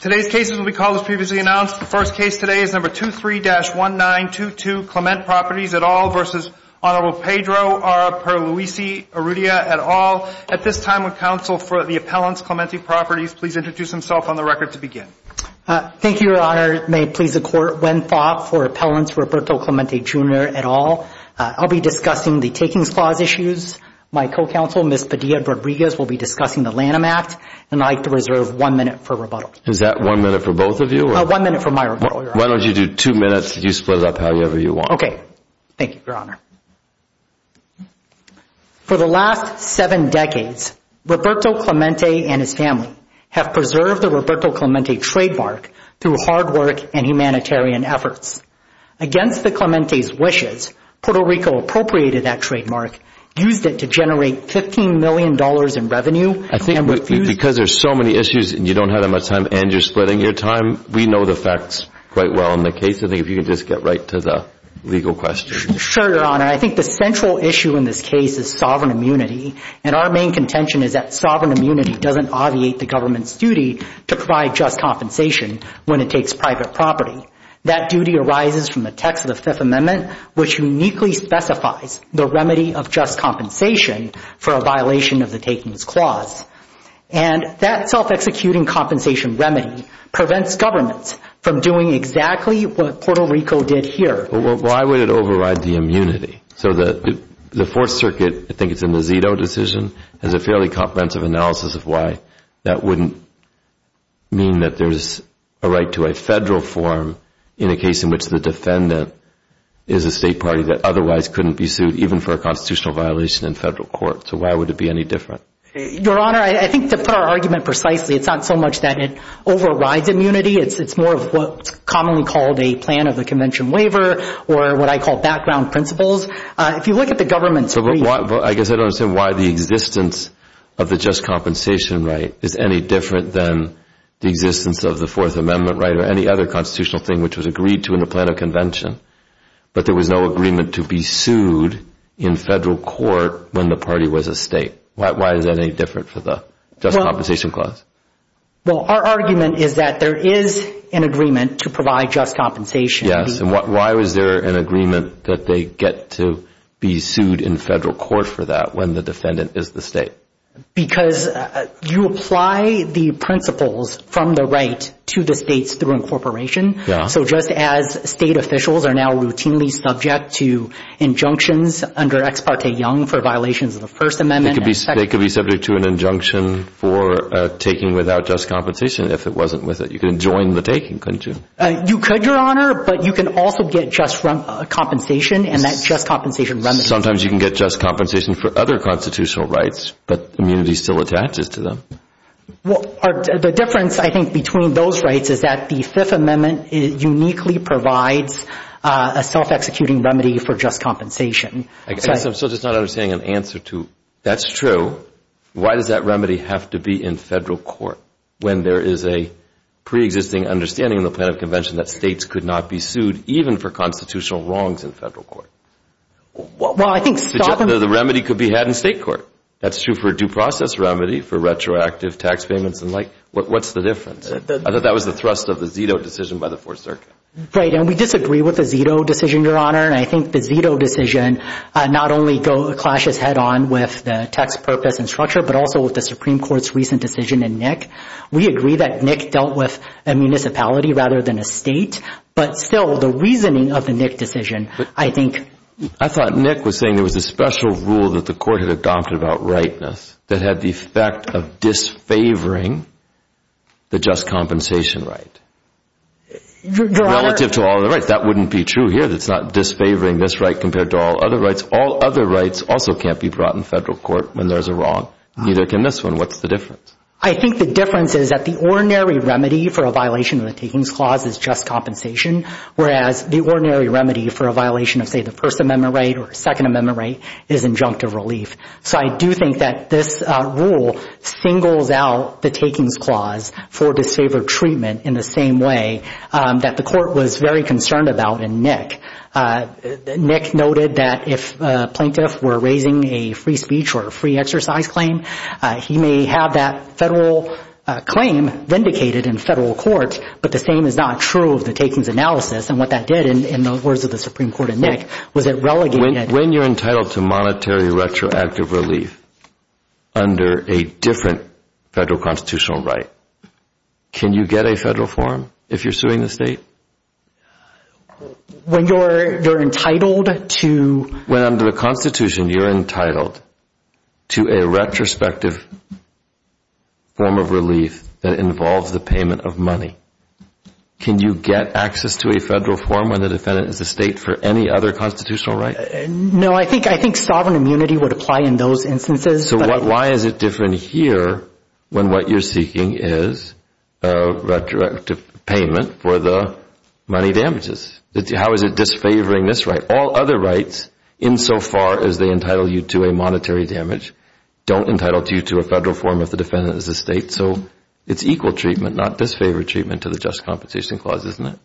Today's case, as we previously announced, the first case today is number 23-1922 Clement Properties et al. v. Honorable Pedro R. Pierluisi-Urrutia et al. At this time, would counsel for the appellants, Clemente Properties, please introduce himself on the record to begin. Thank you, Your Honor. May it please the Court, when thought for appellants Roberto Clemente, Jr. et al., I'll be discussing the Takings Clause issues. My co-counsel, Ms. Padilla Rodriguez, will be discussing the Lanham Act, and I'd like to reserve one minute for rebuttal. Is that one minute for both of you? One minute for my rebuttal, Your Honor. Why don't you do two minutes? You split it up however you want. Okay. Thank you, Your Honor. For the last seven decades, Roberto Clemente and his family have preserved the Roberto Clemente trademark through hard work and humanitarian efforts. Against the Clemente's wishes, Puerto Rico appropriated that trademark, used it to generate $15 million in revenue, and refused to- Because there's so many issues, and you don't have that much time, and you're splitting your time, we know the facts quite well in the case. I think if you could just get right to the legal question. Sure, Your Honor. I think the central issue in this case is sovereign immunity, and our main contention is that sovereign immunity doesn't obviate the government's duty to provide just compensation when it takes private property. That duty arises from the text of the Fifth Amendment, which uniquely specifies the remedy of just compensation for a violation of the Takings Clause. That self-executing compensation remedy prevents governments from doing exactly what Puerto Rico did here. Well, why would it override the immunity? The Fourth Circuit, I think it's in the Zito decision, has a fairly comprehensive analysis of why that wouldn't mean that there's a right to a federal form in a case in which the defendant is a state party that otherwise couldn't be sued even for a constitutional violation in federal court. So why would it be any different? Your Honor, I think to put our argument precisely, it's not so much that it overrides immunity, it's more of what's commonly called a plan of the convention waiver, or what I call background principles. If you look at the government's- I guess I don't understand why the existence of the just compensation right is any different than the existence of the Fourth Amendment right, or any other constitutional thing which was agreed to in the plan of convention, but there was no agreement to be sued in federal court when the party was a state. Why is that any different for the Just Compensation Clause? Well, our argument is that there is an agreement to provide just compensation. Yes. And why was there an agreement that they get to be sued in federal court for that when the defendant is the state? Because you apply the principles from the right to the states through incorporation, so just as state officials are now routinely subject to injunctions under Ex Parte Young for violations of the First Amendment- They could be subject to an injunction for taking without just compensation if it wasn't with it. You could join the taking, couldn't you? You could, Your Honor, but you can also get just compensation, and that just compensation remedy- Sometimes you can get just compensation for other constitutional rights, but immunity still attaches to them. The difference, I think, between those rights is that the Fifth Amendment uniquely provides a self-executing remedy for just compensation. I guess I'm still just not understanding an answer to, that's true, why does that remedy have to be in federal court when there is a pre-existing understanding in the plan of convention that states could not be sued even for constitutional wrongs in federal court? Well, I think- The remedy could be had in state court. That's true for a due process remedy, for retroactive tax payments and like, what's the difference? I thought that was the thrust of the Zito decision by the Fourth Circuit. Right, and we disagree with the Zito decision, Your Honor, and I think the Zito decision not only clashes head-on with the tax purpose and structure, but also with the Supreme Court's recent decision in Nick. We agree that Nick dealt with a municipality rather than a state, but still, the reasoning of the Nick decision, I think- I thought Nick was saying there was a special rule that the court had adopted about rightness that had the effect of disfavoring the just compensation right, relative to all the rights. That wouldn't be true here, that it's not disfavoring this right compared to all other rights. All other rights also can't be brought in federal court when there's a wrong, neither can this one. What's the difference? I think the difference is that the ordinary remedy for a violation of the Takings Clause is just compensation, whereas the ordinary remedy for a violation of, say, the First Amendment right or Second Amendment right is injunctive relief. So I do think that this rule singles out the Takings Clause for disfavored treatment in the same way that the court was very concerned about in Nick. Nick noted that if a plaintiff were raising a free speech or a free exercise claim, he may have that federal claim vindicated in federal court, but the same is not true of the Takings analysis and what that did, in the words of the Supreme Court in Nick, was it relegated- When you're entitled to monetary retroactive relief under a different federal constitutional right, can you get a federal form if you're suing the state? When you're entitled to- When under the Constitution, you're entitled to a retrospective form of relief that involves the payment of money, can you get access to a federal form when the defendant is a state for any other constitutional right? No, I think sovereign immunity would apply in those instances. So why is it different here when what you're seeking is a retroactive payment for the money damages? How is it disfavoring this right? All other rights, insofar as they entitle you to a monetary damage, don't entitle you to a federal form if the defendant is a state, so it's equal treatment, not disfavored treatment to the Just Compensation Clause, isn't it?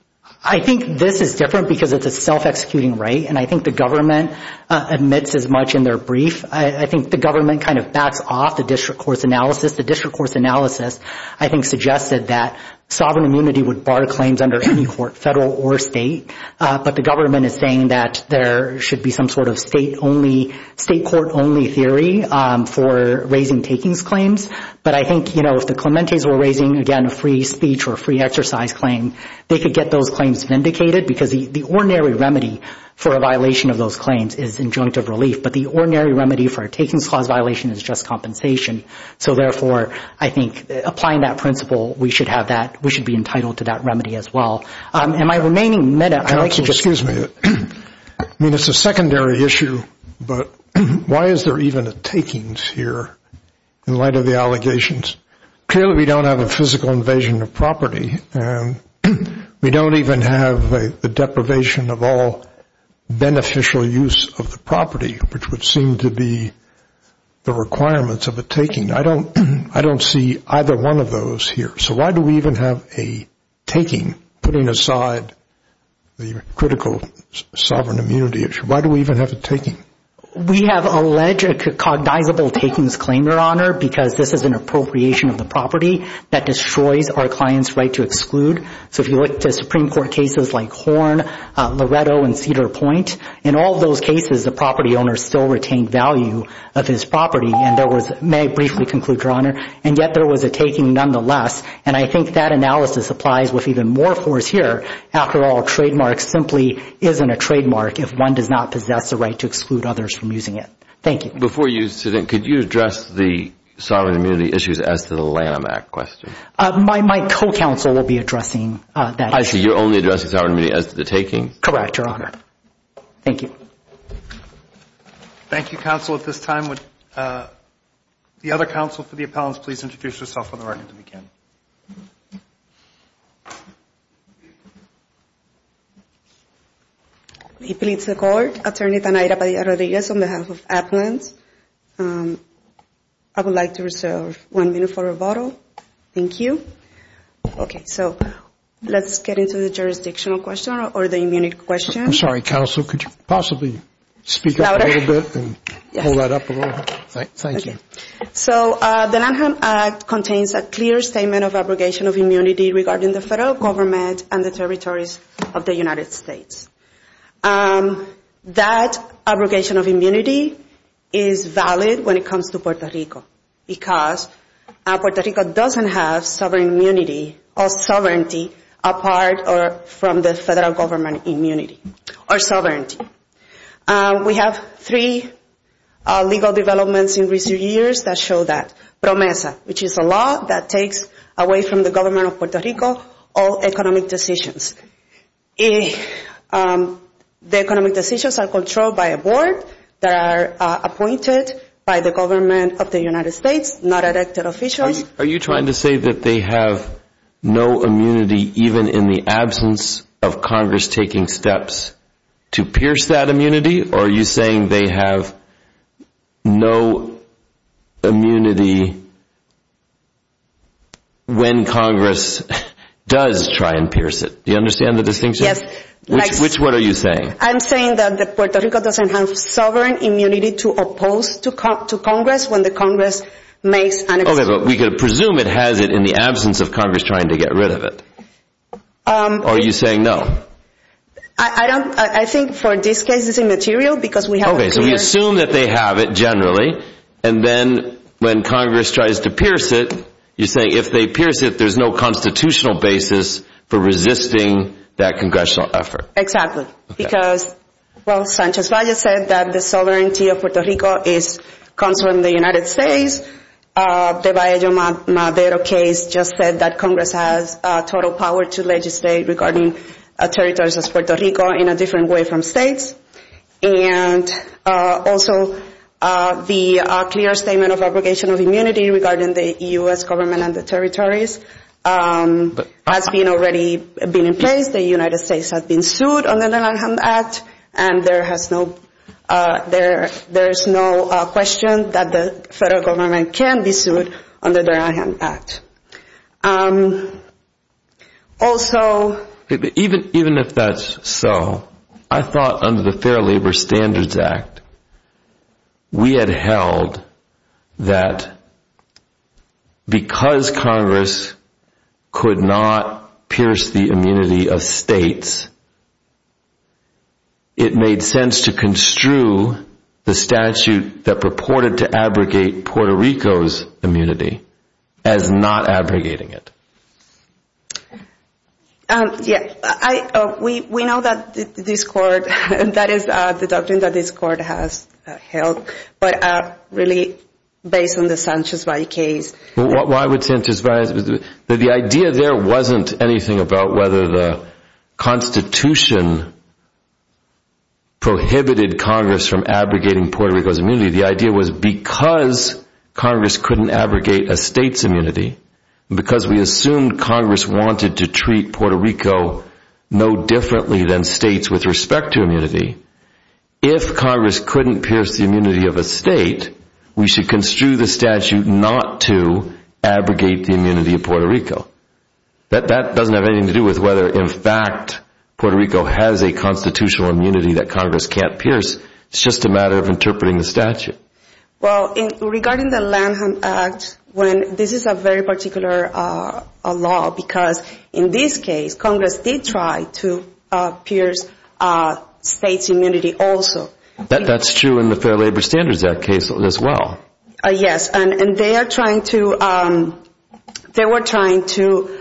I think this is different because it's a self-executing right, and I think the government admits as much in their brief. I think the government kind of backs off the district court's analysis. The district court's analysis, I think, suggested that sovereign immunity would bar claims under any court, federal or state, but the government is saying that there should be some sort of state court-only theory for raising takings claims, but I think if the Clementes were raising, again, a free speech or a free exercise claim, they could get those claims vindicated because the ordinary remedy for a violation of those claims is injunctive relief, but the ordinary remedy for a takings clause violation is just compensation. So therefore, I think applying that principle, we should have that, we should be entitled to that remedy as well. In my remaining minute, I'd like to just... Excuse me. I mean, it's a secondary issue, but why is there even a takings here in light of the allegations? Clearly, we don't have a physical invasion of property, and we don't even have the deprivation of all beneficial use of the property, which would seem to be the requirements of a taking. I don't see either one of those here. So why do we even have a taking, putting aside the critical sovereign immunity issue? Why do we even have a taking? We have alleged cognizable takings claim, Your Honor, because this is an appropriation of the property that destroys our client's right to exclude. So if you look to Supreme Court cases like Horn, Loretto, and Cedar Point, in all those cases, the property owner still retained value of his property, and there was, may I briefly And I think that analysis applies with even more force here. After all, a trademark simply isn't a trademark if one does not possess the right to exclude others from using it. Thank you. Before you sit in, could you address the sovereign immunity issues as to the Lanham Act question? My co-counsel will be addressing that issue. I see. You're only addressing sovereign immunity as to the taking. Correct, Your Honor. Thank you. Thank you, counsel. At this time, would the other counsel for the appellants please introduce yourself on behalf of the appellants? I would like to reserve one minute for rebuttal, thank you. Okay, so let's get into the jurisdictional question, or the immunity question. I'm sorry, counsel, could you possibly speak up a little bit and hold that up a little bit? Thank you. So the Lanham Act contains a clear statement of abrogation of immunity regarding the federal government and the territories of the United States. That abrogation of immunity is valid when it comes to Puerto Rico, because Puerto Rico doesn't have sovereign immunity or sovereignty apart from the federal government immunity or sovereignty. We have three legal developments in recent years that show that. PROMESA, which is a law that takes away from the government of Puerto Rico all economic decisions. The economic decisions are controlled by a board that are appointed by the government of the United States, not elected officials. Are you trying to say that they have no immunity even in the absence of Congress taking steps to pierce that immunity, or are you saying they have no immunity when Congress does try and pierce it? Do you understand the distinction? Which one are you saying? I'm saying that Puerto Rico doesn't have sovereign immunity to oppose to Congress when the Congress makes an excuse. Okay, but we could presume it has it in the absence of Congress trying to get rid of it. Are you saying no? I don't, I think for this case it's immaterial because we haven't pierced it. Okay, so we assume that they have it generally, and then when Congress tries to pierce it, you're saying if they pierce it, there's no constitutional basis for resisting that congressional effort. Exactly. Because, well, Sanchez Valle said that the sovereignty of Puerto Rico comes from the United States. The Valle-Madero case just said that Congress has total power to legislate regarding territories as Puerto Rico in a different way from states, and also the clear statement of obligation of immunity regarding the U.S. government and the territories has already been in place. The United States has been sued under the Lanham Act, and there's no question that the U.S. government can be sued under the Lanham Act. Also... Even if that's so, I thought under the Fair Labor Standards Act, we had held that because Congress could not pierce the immunity of states, it made sense to construe the statute that purported to abrogate Puerto Rico's immunity as not abrogating it. Yeah, we know that this Court, that is the doctrine that this Court has held, but really based on the Sanchez Valle case... Why would Sanchez Valle... The idea there wasn't anything about whether the Constitution prohibited Congress from abrogating Puerto Rico's immunity. The idea was because Congress couldn't abrogate a state's immunity, and because we assumed Congress wanted to treat Puerto Rico no differently than states with respect to immunity, if Congress couldn't pierce the immunity of a state, we should construe the statute not to abrogate the immunity of Puerto Rico. That doesn't have anything to do with whether, in fact, Puerto Rico has a constitutional immunity that Congress can't pierce, it's just a matter of interpreting the statute. Well, regarding the Lanham Act, this is a very particular law because in this case, Congress did try to pierce states' immunity also. That's true in the Fair Labor Standards Act case as well. Yes. Yes, and they were trying to...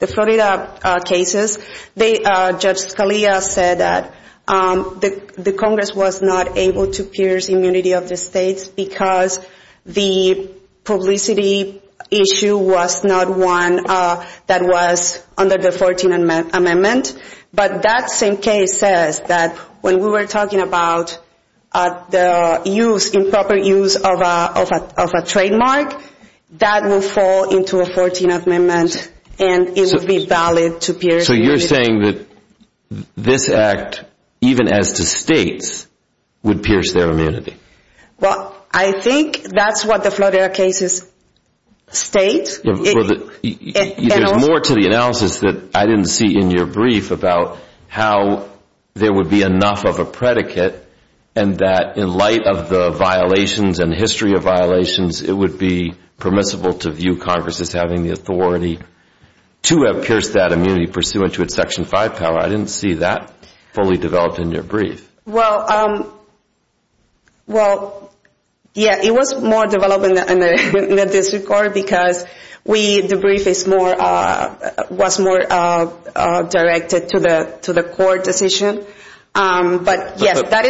The Florida cases, Judge Scalia said that the Congress was not able to pierce immunity of the states because the publicity issue was not one that was under the 14th Amendment, but that same case says that when we were talking about the improper use of a trademark, that will fall into a 14th Amendment, and it would be valid to pierce immunity. So you're saying that this act, even as to states, would pierce their immunity? Well, I think that's what the Florida cases state. There's more to the analysis that I didn't see in your brief about how there would be enough of a predicate and that in light of the violations and history of violations, it would be permissible to view Congress as having the authority to have pierced that immunity pursuant to its Section 5 power. I didn't see that fully developed in your brief. Well, yeah, it was more developed in the district court because the brief was more directed to the court decision, but yes, that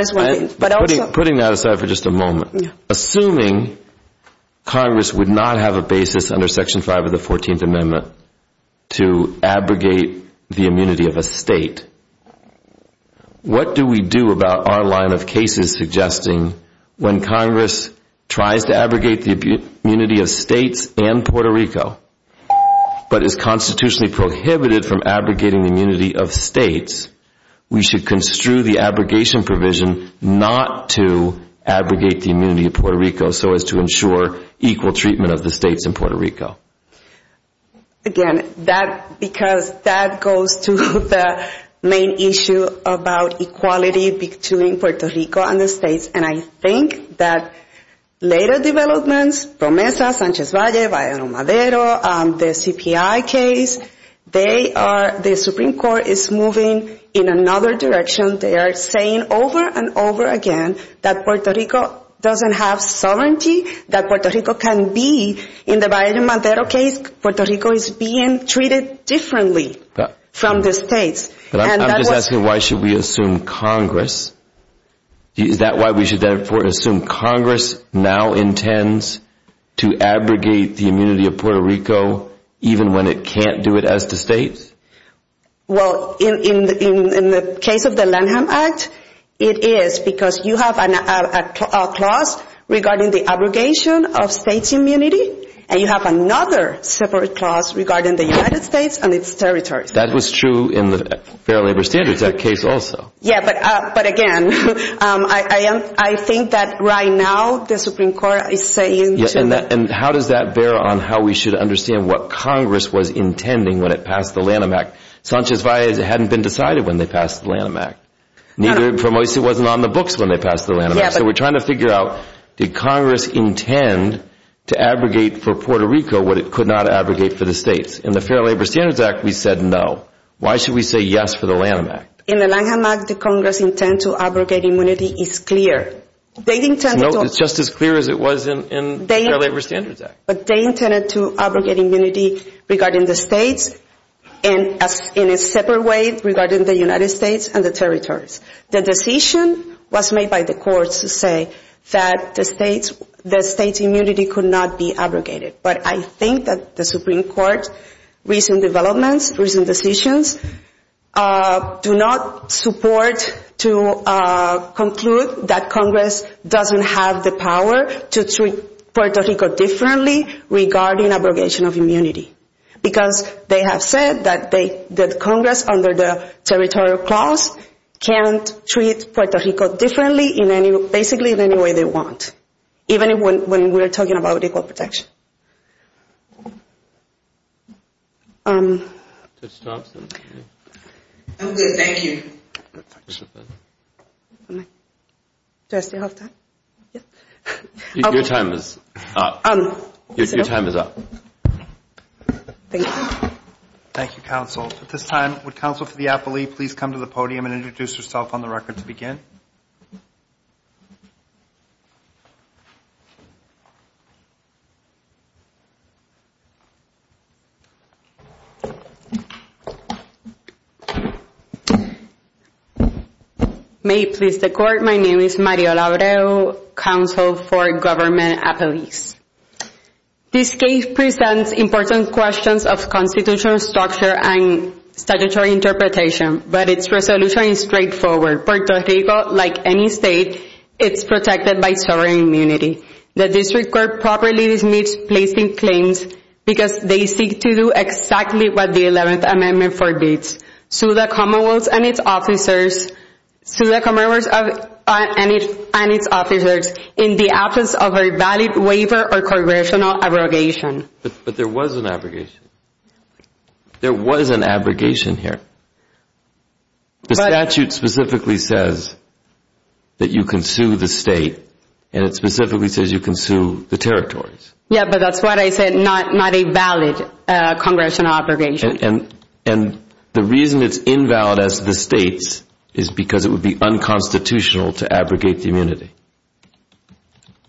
is one thing. Putting that aside for just a moment, assuming Congress would not have a basis under Section 5 of the 14th Amendment to abrogate the immunity of a state, what do we do about our line of cases suggesting when Congress tries to abrogate the immunity of states and Puerto Rico, but is constitutionally prohibited from abrogating the immunity of states, we should construe the abrogation provision not to abrogate the immunity of Puerto Rico so as to ensure equal treatment of the states in Puerto Rico? Again, that, because that goes to the main issue about equality between Puerto Rico and the states and I think that later developments, PROMESA, Sanchez Valle, Valle Romadero, the CPI case, they are, the Supreme Court is moving in another direction. They are saying over and over again that Puerto Rico doesn't have sovereignty, that Puerto Rico is being treated differently from the states. I'm just asking why should we assume Congress, is that why we should therefore assume Congress now intends to abrogate the immunity of Puerto Rico even when it can't do it as the states? Well, in the case of the Lanham Act, it is because you have a clause regarding the abrogation of states' immunity and you have another separate clause regarding the United States and its territories. That was true in the Fair Labor Standards Act case also. Yeah, but again, I think that right now the Supreme Court is saying to... And how does that bear on how we should understand what Congress was intending when it passed the Lanham Act? Sanchez Valle hadn't been decided when they passed the Lanham Act, neither PROMESA wasn't on the books when they passed the Lanham Act, so we're trying to figure out did Congress intend to abrogate for Puerto Rico what it could not abrogate for the states? In the Fair Labor Standards Act, we said no. Why should we say yes for the Lanham Act? In the Lanham Act, the Congress' intent to abrogate immunity is clear. They intend to... It's just as clear as it was in the Fair Labor Standards Act. But they intended to abrogate immunity regarding the states in a separate way regarding the United States and the territories. The decision was made by the courts to say that the states' immunity could not be abrogated. But I think that the Supreme Court's recent developments, recent decisions, do not support to conclude that Congress doesn't have the power to treat Puerto Rico differently regarding abrogation of immunity. Because they have said that Congress, under the territorial clause, can't treat Puerto Rico differently in basically any way they want, even when we're talking about equal protection. Okay, thank you. Do I still have time? Your time is up. Thank you. Thank you, Counsel. At this time, would Counsel for the Appellee please come to the podium and introduce herself on the record to begin? May it please the Court, my name is Mariela Abreu, Counsel for Government Appellees. This case presents important questions of constitutional structure and statutory interpretation, but its resolution is straightforward. Puerto Rico, like any state, is protected by sovereign immunity. The District Court properly dismisses placing claims because they seek to do exactly what the 11th Amendment forbids, sue the Commonwealth and its officers in the absence of a valid waiver or congressional abrogation. But there was an abrogation. There was an abrogation here. The statute specifically says that you can sue the state, and it specifically says you can sue the territories. Yeah, but that's what I said, not a valid congressional abrogation. And the reason it's invalid as the state's is because it would be unconstitutional to abrogate the immunity.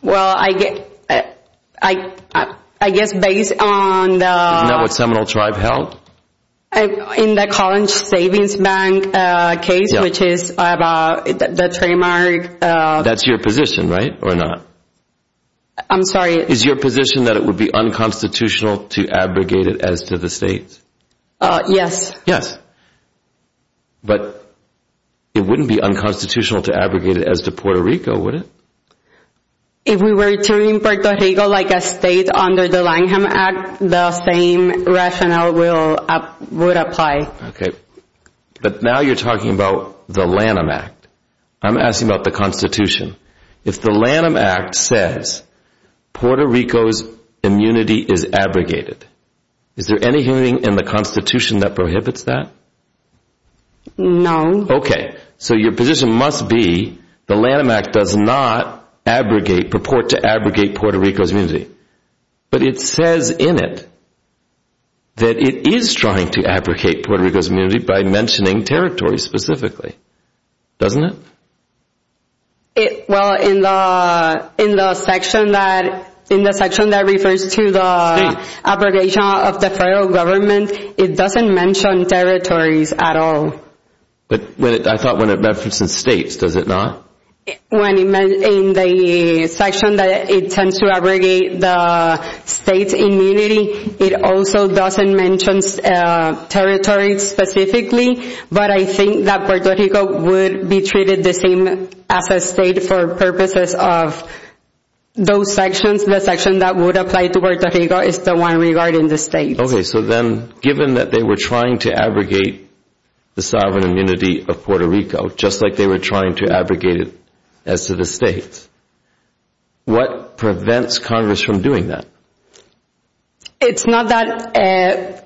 Well, I guess based on the... Not what Seminole Tribe held? In the College Savings Bank case, which is about the trademark... That's your position, right, or not? I'm sorry? Is your position that it would be unconstitutional to abrogate it as to the state? Yes. Yes. But it wouldn't be unconstitutional to abrogate it as to Puerto Rico, would it? If we were returning Puerto Rico like a state under the Lanham Act, the same rationale would apply. But now you're talking about the Lanham Act. I'm asking about the Constitution. If the Lanham Act says Puerto Rico's immunity is abrogated, is there anything in the Constitution that prohibits that? No. Okay. So your position must be the Lanham Act does not abrogate, purport to abrogate Puerto Rico's But it says in it that it is trying to abrogate Puerto Rico's immunity by mentioning territories specifically, doesn't it? Well, in the section that refers to the abrogation of the federal government, it doesn't mention territories at all. But I thought when it references states, does it not? In the section that it tends to abrogate the state's immunity, it also doesn't mention territories specifically, but I think that Puerto Rico would be treated the same as a state for purposes of those sections. The section that would apply to Puerto Rico is the one regarding the states. Okay. So then, given that they were trying to abrogate the sovereign immunity of Puerto Rico, just like they were trying to abrogate it as to the states, what prevents Congress from doing that? It's not that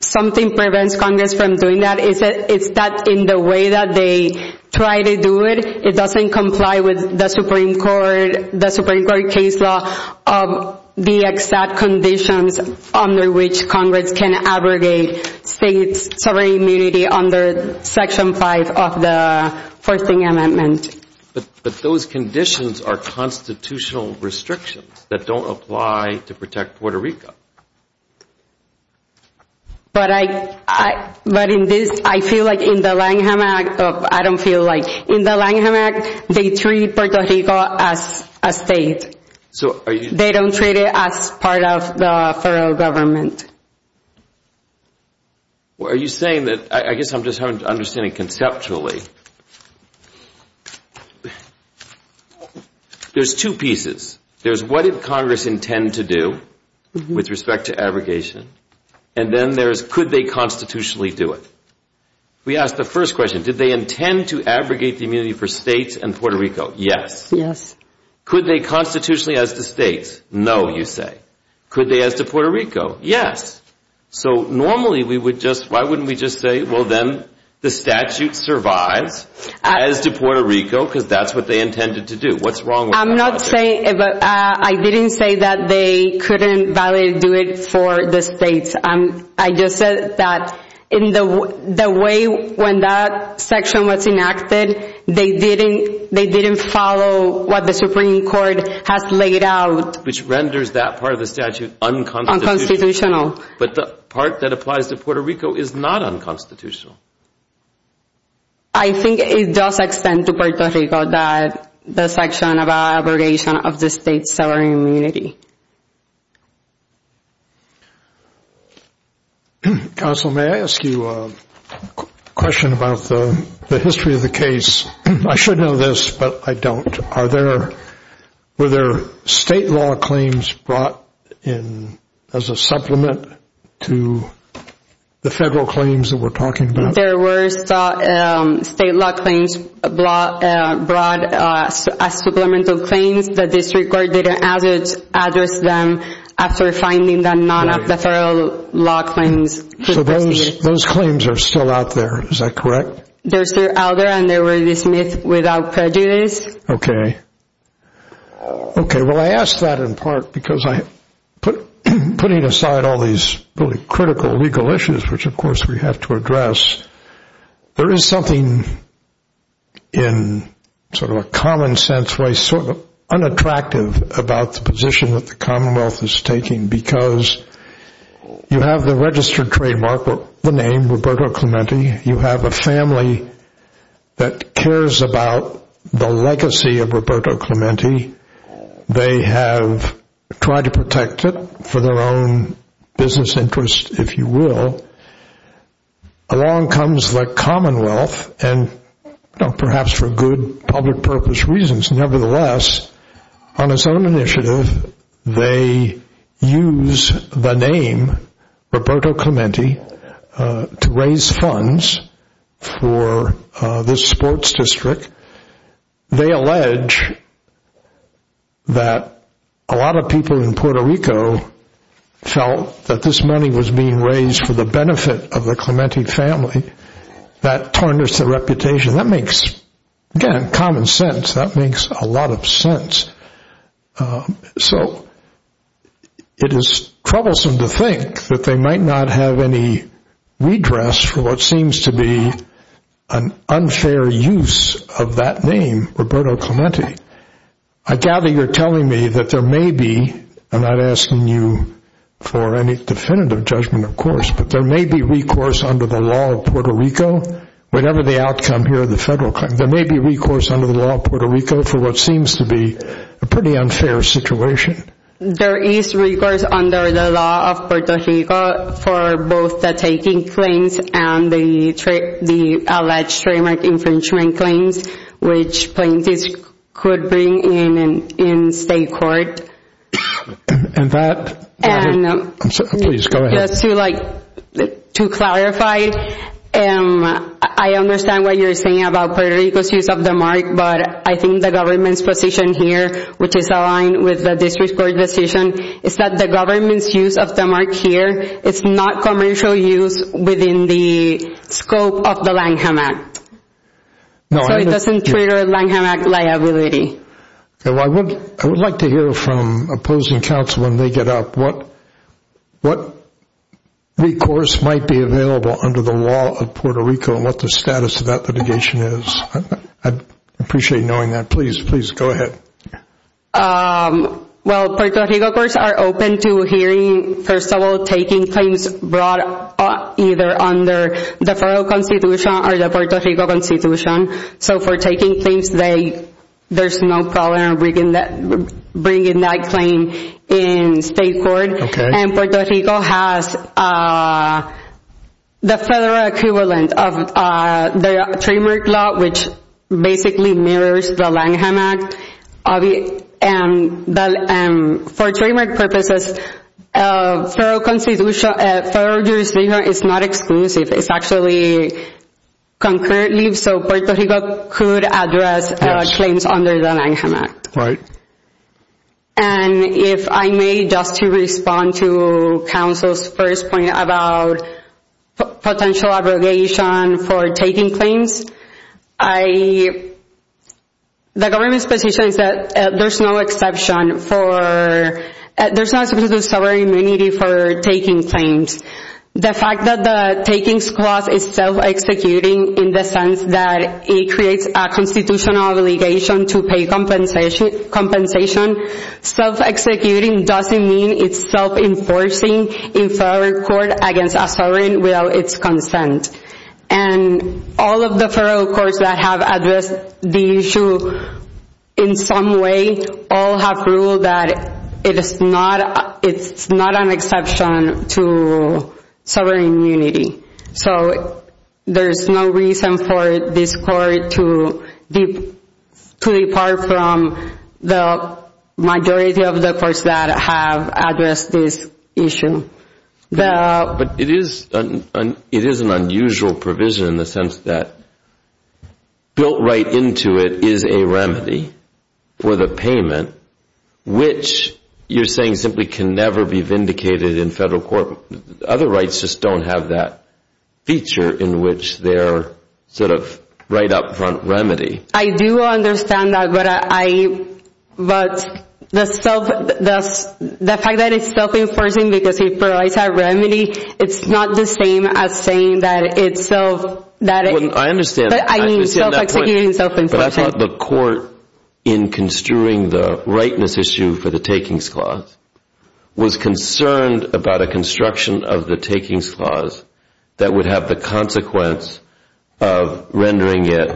something prevents Congress from doing that, it's that in the way that they try to do it, it doesn't comply with the Supreme Court, the Supreme Court case law of the exact conditions under which Congress can abrogate states' sovereign immunity under Section 5 of the Forcing Amendment. But those conditions are constitutional restrictions that don't apply to protect Puerto Rico. But in this, I feel like in the Langham Act, I don't feel like, in the Langham Act, they treat Puerto Rico as a state. They don't treat it as part of the federal government. Are you saying that, I guess I'm just having to understand it conceptually. There's two pieces. There's what did Congress intend to do with respect to abrogation, and then there's could they constitutionally do it. We asked the first question, did they intend to abrogate the immunity for states and Puerto Rico? Yes. Could they constitutionally as to states? No, you say. Could they as to Puerto Rico? Yes. So normally, we would just, why wouldn't we just say, well then, the statute survives as to Puerto Rico, because that's what they intended to do. What's wrong with that? I'm not saying, I didn't say that they couldn't do it for the states. I just said that in the way when that section was enacted, they didn't follow what the Supreme Court has laid out. Which renders that part of the statute unconstitutional. But the part that applies to Puerto Rico is not unconstitutional. I think it does extend to Puerto Rico that the section about abrogation of the state sovereign immunity. Counsel, may I ask you a question about the history of the case? I should know this, but I don't. Are there, were there state law claims brought in as a supplement to the federal claims that we're talking about? There were state law claims brought as supplemental claims. The district court didn't address them after finding that none of the federal law claims were proceeded. So those claims are still out there, is that correct? They're still out there and they were dismissed without prejudice. Okay. Okay, well I ask that in part because I, putting aside all these really critical legal issues, which of course we have to address, there is something in sort of a common sense way sort of unattractive about the position that the Commonwealth is taking because you have the registered trademark, the name, Roberto Clemente. You have a family that cares about the legacy of Roberto Clemente. They have tried to protect it for their own business interest, if you will. Along comes the Commonwealth and perhaps for good public purpose reasons, nevertheless, on its own initiative, they use the name Roberto Clemente to raise funds for this sports district. They allege that a lot of people in Puerto Rico felt that this money was being raised for the benefit of the Clemente family. That tarnished their reputation. That makes, again, common sense. That makes a lot of sense. So it is troublesome to think that they might not have any redress for what seems to be an unfair use of that name, Roberto Clemente. I gather you're telling me that there may be, I'm not asking you for any definitive judgment, of course, but there may be recourse under the law of Puerto Rico. Whatever the outcome here of the federal claim, there may be recourse under the law of Puerto Rico for what seems to be a pretty unfair situation. There is recourse under the law of Puerto Rico for both the taking claims and the alleged trademark infringement claims, which plaintiffs could bring in state court. And that... Please, go ahead. Just to clarify, I understand what you're saying about Puerto Rico's use of the mark, but I think the government's position here, which is aligned with the district court decision, is that the government's use of the mark here is not commercial use within the scope of the Langham Act. So it doesn't trigger Langham Act liability. I would like to hear from opposing counsel, when they get up, what recourse might be available under the law of Puerto Rico and what the status of that litigation is. I'd appreciate knowing that. Please, please, go ahead. Well, Puerto Rico courts are open to hearing, first of all, taking claims brought either under the federal constitution or the Puerto Rico constitution. So for taking claims, there's no problem bringing that claim in state court. And Puerto Rico has the federal equivalent of the trademark law, which basically mirrors the Langham Act. For trademark purposes, federal jurisdiction is not exclusive. It's actually concurrently, so Puerto Rico could address claims under the Langham Act. And if I may, just to respond to counsel's first point about potential abrogation for taking claims, the government's position is that there's no exception for, there's not a specific sovereignty for taking claims. The fact that the taking clause is self-executing in the sense that it creates a constitutional obligation to pay compensation, self-executing doesn't mean it's self-enforcing in federal court against a sovereign without its consent. And all of the federal courts that have addressed the issue in some way all have ruled that it's not an exception to sovereign immunity. So there's no reason for this court to depart from the majority of the courts that have addressed this issue. But it is an unusual provision in the sense that built right into it is a remedy for the payment, which you're saying simply can never be vindicated in federal court. Other rights just don't have that feature in which they're sort of right up front remedy. I do understand that, but the fact that it's self-enforcing because it provides a remedy, it's not the same as saying that it's self... I understand that point, but I thought the court in construing the rightness issue for the takings clause was concerned about a construction of the takings clause that would have the consequence of rendering it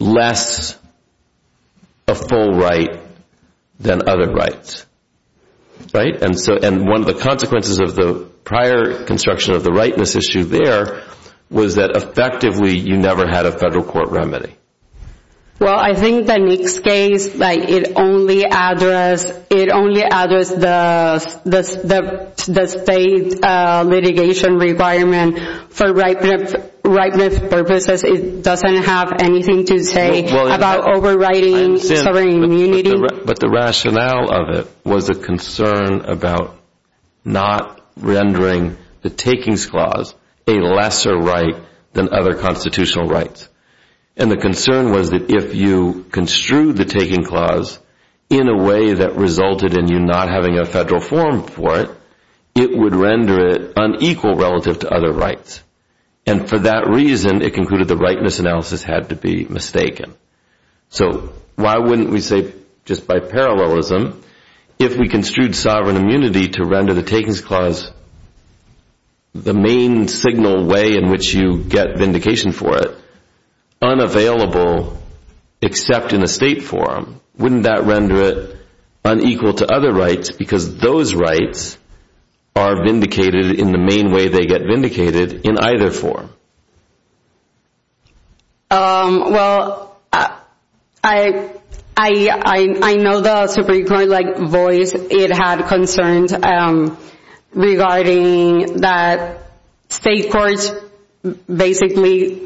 less a full right than other rights. And one of the consequences of the prior construction of the rightness issue there was that effectively you never had a federal court remedy. Well, I think the Nix case, it only addressed the state litigation requirement for rightness purposes. It doesn't have anything to say about overriding sovereign immunity. But the rationale of it was a concern about not rendering the takings clause a lesser right than other constitutional rights. And the concern was that if you construed the taking clause in a way that resulted in you not having a federal forum for it, it would render it unequal relative to other rights. And for that reason, it concluded the rightness analysis had to be mistaken. So why wouldn't we say, just by parallelism, if we construed sovereign immunity to render the takings clause the main signal way in which you get vindication for it, unavailable except in a state forum, wouldn't that render it unequal to other rights because those rights are vindicated in the main way they get vindicated in either forum? Well, I know the Supreme Court voice it had concerns regarding that state courts basically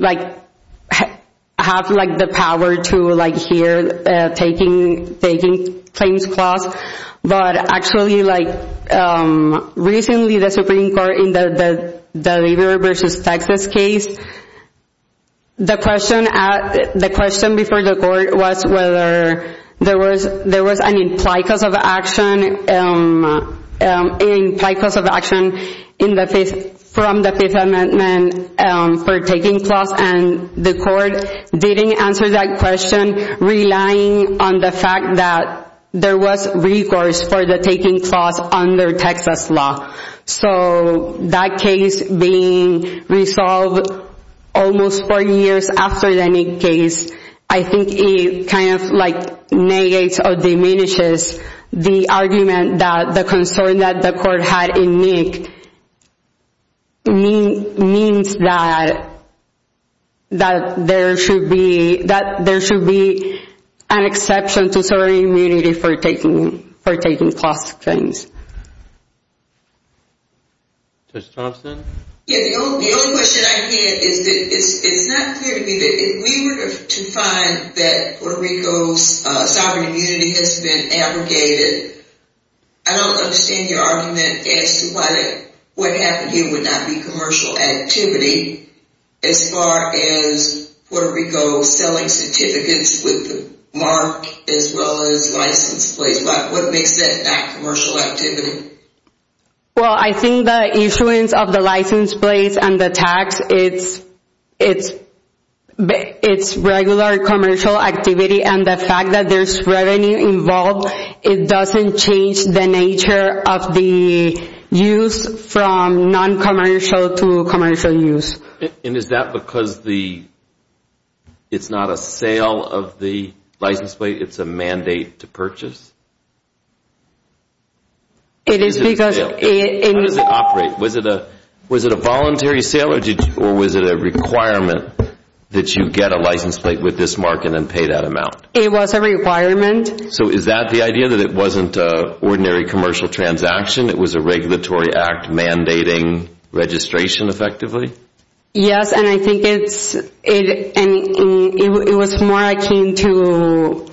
have the power to hear taking claims clause. But actually, recently the Supreme Court in the Deliver versus Texas case the question before the court was whether there was an implied cause of action implied cause of action from the Fifth Amendment for taking clause and the court didn't answer that question relying on the fact that there was recourse for the taking clause under Texas law. So that case being resolved almost four years after the Nick case I think it negates or diminishes the argument that the concern that the court had in Nick means that there should be an exception to sovereign immunity for taking clause claims. The only question I had is that it's not clear to me that if we were to find that Puerto Rico's sovereign immunity has been abrogated, I don't understand your argument as to why what happened here would not be commercial activity as far as Puerto Rico selling certificates with the mark as well as the license plates. What makes that commercial activity? Well, I think the issuance of the license plates and the tax it's regular commercial activity and the fact that there's revenue involved it doesn't change the nature of the use from non-commercial to commercial use. And is that because it's not a sale of the license plate, it's a mandate to purchase? How does it operate? Was it a voluntary sale or was it a requirement that you get a license plate with this mark and then pay that amount? It was a requirement. So is that the idea that it wasn't an ordinary commercial transaction it was a regulatory act mandating registration effectively? Yes, and I think it's it was more akin to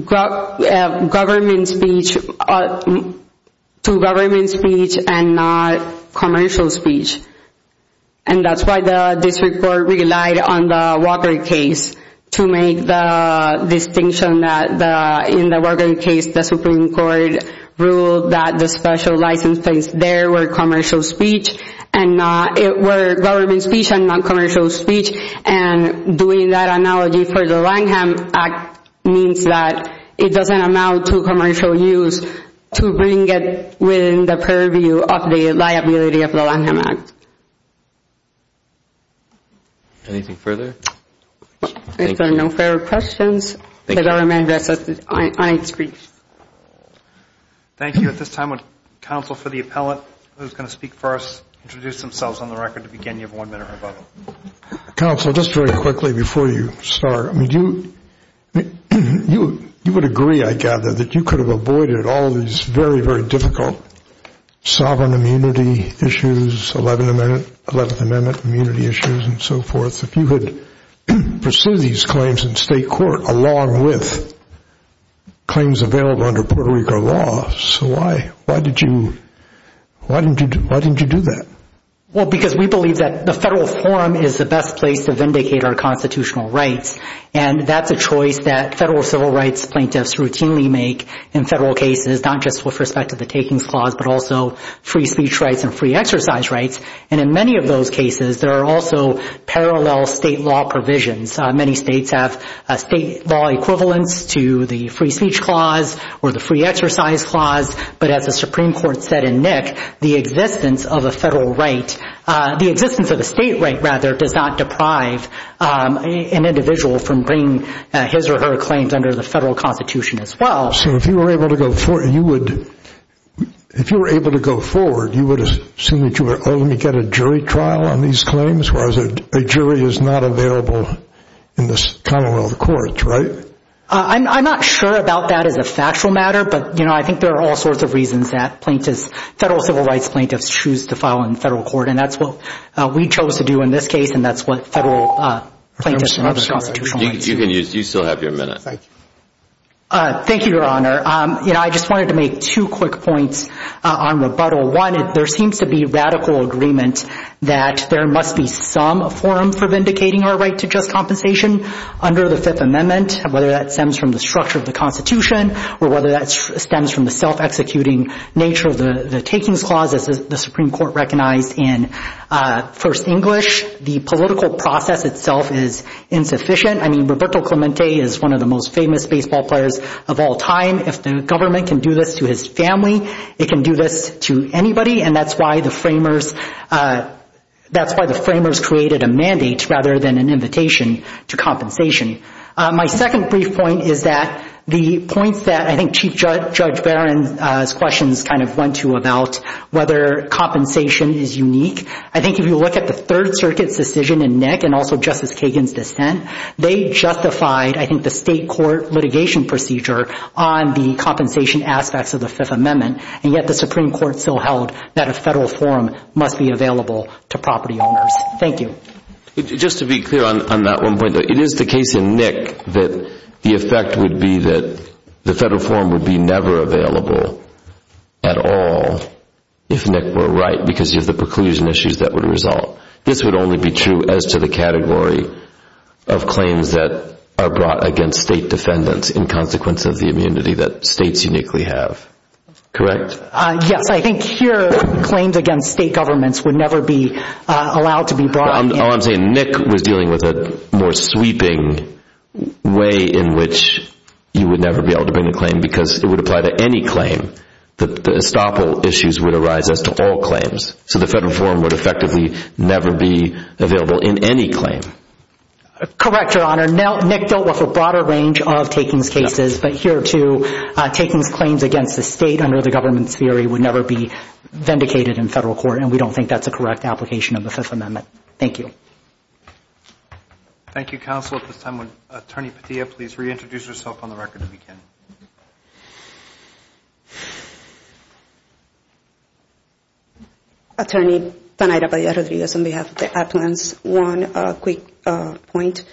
government speech to government speech and not commercial speech and that's why the district court relied on the Walker case to make the distinction that in the Walker case the Supreme Court ruled that the special license plates there were commercial speech and not government speech and non-commercial speech and doing that analogy for the Langham Act means that it doesn't amount to commercial use to bring it within the purview of the liability of the Langham Act. Anything further? If there are no further questions the government is on its feet. Thank you. At this time would counsel for the appellant who's going to speak first introduce themselves on the record to begin you have one minute or above them. Counsel, just very quickly before you start you would agree I gather that you could have avoided all these very, very difficult sovereign immunity issues, 11th Amendment immunity issues and so forth. If you could pursue these claims in state court along with claims available under Puerto Rico law, so why did you why didn't you do that? Well because we believe that the federal forum is the best place to vindicate our constitutional rights and that's a choice that federal civil rights plaintiffs routinely make in federal cases not just with respect to the takings clause but also free speech rights and free exercise rights and in many of those cases there are also parallel state law provisions. Many states have a state law equivalence to the free speech clause or the free exercise clause but as the Supreme Court said in Nick the existence of a federal right, the existence of a state right rather does not deprive an individual from bringing his or her claims under the federal constitution as well. So if you were able to go forward if you were able to go forward you would assume that you would only get a jury trial on these claims whereas a jury is not available in the commonwealth courts, right? I'm not sure about that as a factual matter but I think there are all sorts of reasons that plaintiffs federal civil rights plaintiffs choose to file in federal court and that's what we chose to do in this case and that's what federal plaintiffs and other constitutional rights do. You can use, you still have your minute. Thank you your honor I just wanted to make two quick points on rebuttal. One, there seems to be radical agreement that there must be some forum for vindicating our right to just compensation under the fifth amendment whether that stems from the structure of the constitution or whether that stems from the self-executing nature of the takings clause as the Supreme Court recognized in First English. The political process itself is insufficient. I mean Roberto Clemente is one of the most famous baseball players of all time. If the government can do this to his family it can do this to anybody and that's why the framers that's why the framers created a mandate rather than an invitation to compensation. My second brief point is that the points that I think Chief Judge Barron's questions kind of went to about whether compensation is unique. I think if you look at the third circuit's decision in Nick and also Justice Kagan's dissent they justified I think the state court litigation procedure on the compensation aspects of the fifth amendment and yet the Supreme Court still held that a federal forum must be available to property owners. Thank you Just to be clear on that one point. It is the case in Nick that the effect would be that the federal forum would be never available at all if Nick were right because of the preclusion issues that would result. This would only be true as to the category of claims that are brought against state defendants in consequence of the immunity that states uniquely have. Correct? Yes, I think here claims against state governments would never be allowed to be brought. I'm saying Nick was dealing with a more sweeping way in which you would never be able to bring a claim because it would apply to any claim. The estoppel issues would arise as to all claims. So the federal forum would effectively never be available in any claim. Correct, Your Honor. Nick dealt with a broader range of takings cases but here too takings claims against the state under the government's theory would never be advocated in federal court and we don't think that's a correct application of the Fifth Amendment. Thank you. Thank you, Counsel. At this time would Attorney Padilla please reintroduce herself on the record if you can. Attorney Tanaya Padilla Rodriguez on behalf of the Appellants. One quick point.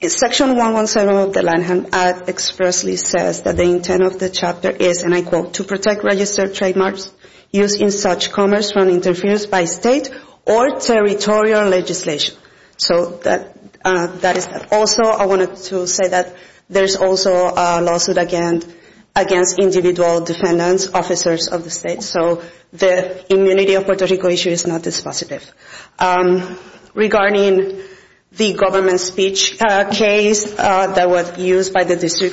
Section 117 of the Lanham Act expressly says that the intent of the chapter is, and I quote, to protect registered trademarks used in such commerce from interference by state or territorial legislation. So that is also, I wanted to say that there's also a lawsuit against individual defendants, officers of the state. So the immunity of Puerto Rico issue is not dispositive. Regarding the government speech case that was used by the attorney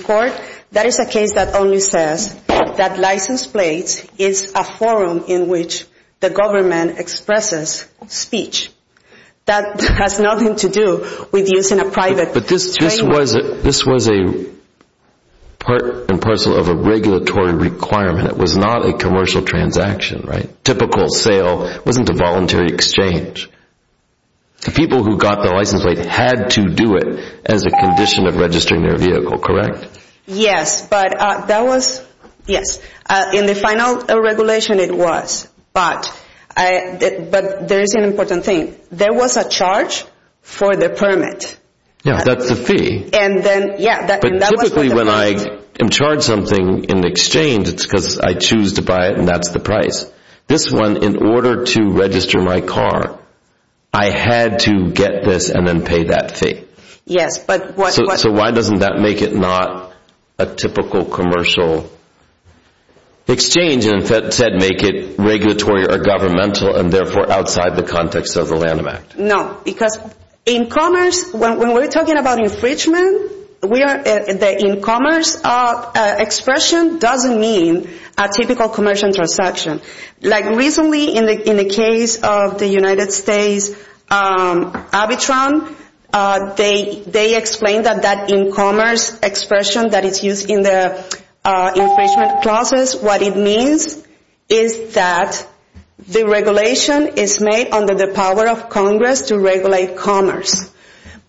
says that license plates is a forum in which the government expresses speech. That has nothing to do with using a private claim. But this was a part and parcel of a regulatory requirement. It was not a commercial transaction, right? Typical sale wasn't a voluntary exchange. The people who got the license plate had to do it as a condition of registering their vehicle, correct? Yes, but that was, yes, in the final regulation it was. But there is an important thing. There was a charge for the permit. Yeah, that's the fee. But typically when I charge something in exchange, it's because I choose to buy it and that's the price. This one, in order to register my car, I had to get this and then pay that fee. Yes, but So why doesn't that make it not a typical commercial exchange and instead make it regulatory or governmental and therefore outside the context of the Lanham Act? No, because in commerce, when we're talking about infringement, the in commerce expression doesn't mean a typical commercial transaction. Like recently in the case of the United States, Abitron, they explained that that in commerce expression that is used in the infringement clauses, what it means is that the regulation is made under the power of Congress to regulate commerce.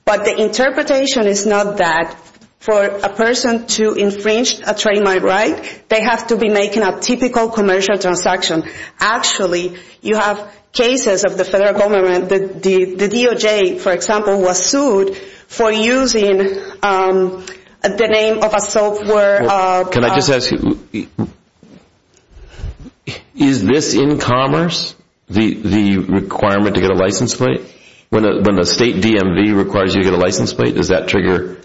But the interpretation is not that for a person to infringe a trademark right, they have to be making a typical commercial transaction. Actually, you have cases of the federal government, the DOJ, for example, was sued for using the name of a software Can I just ask you, is this in commerce, the requirement to get a license plate? When a state DMV requires you to get a license plate, does that trigger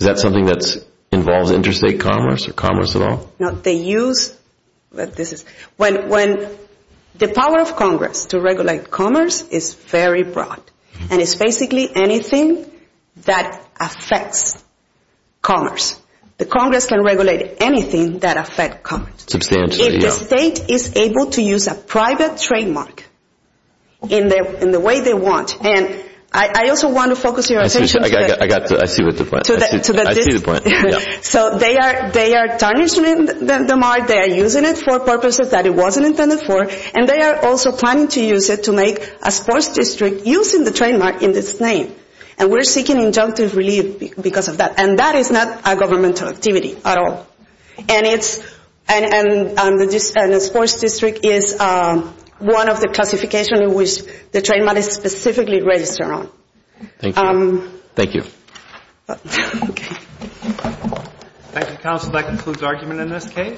is that something that involves interstate commerce or commerce at all? When the power of Congress to regulate commerce is very broad, and it's basically anything that affects commerce. The Congress can regulate anything that affects commerce. If the state is able to use a private trademark in the way they want, and I also want to focus your attention I see the point. So they are tarnishing the mark, they are using it for purposes that it wasn't intended for, and they are also planning to use it to make a sports district using the trademark in its name. And we're seeking injunctive relief because of that. And that is not a governmental activity at all. And the sports district is one of the classifications in which the trademark is specifically registered on. Thank you. Thank you, counsel. That concludes argument in this case.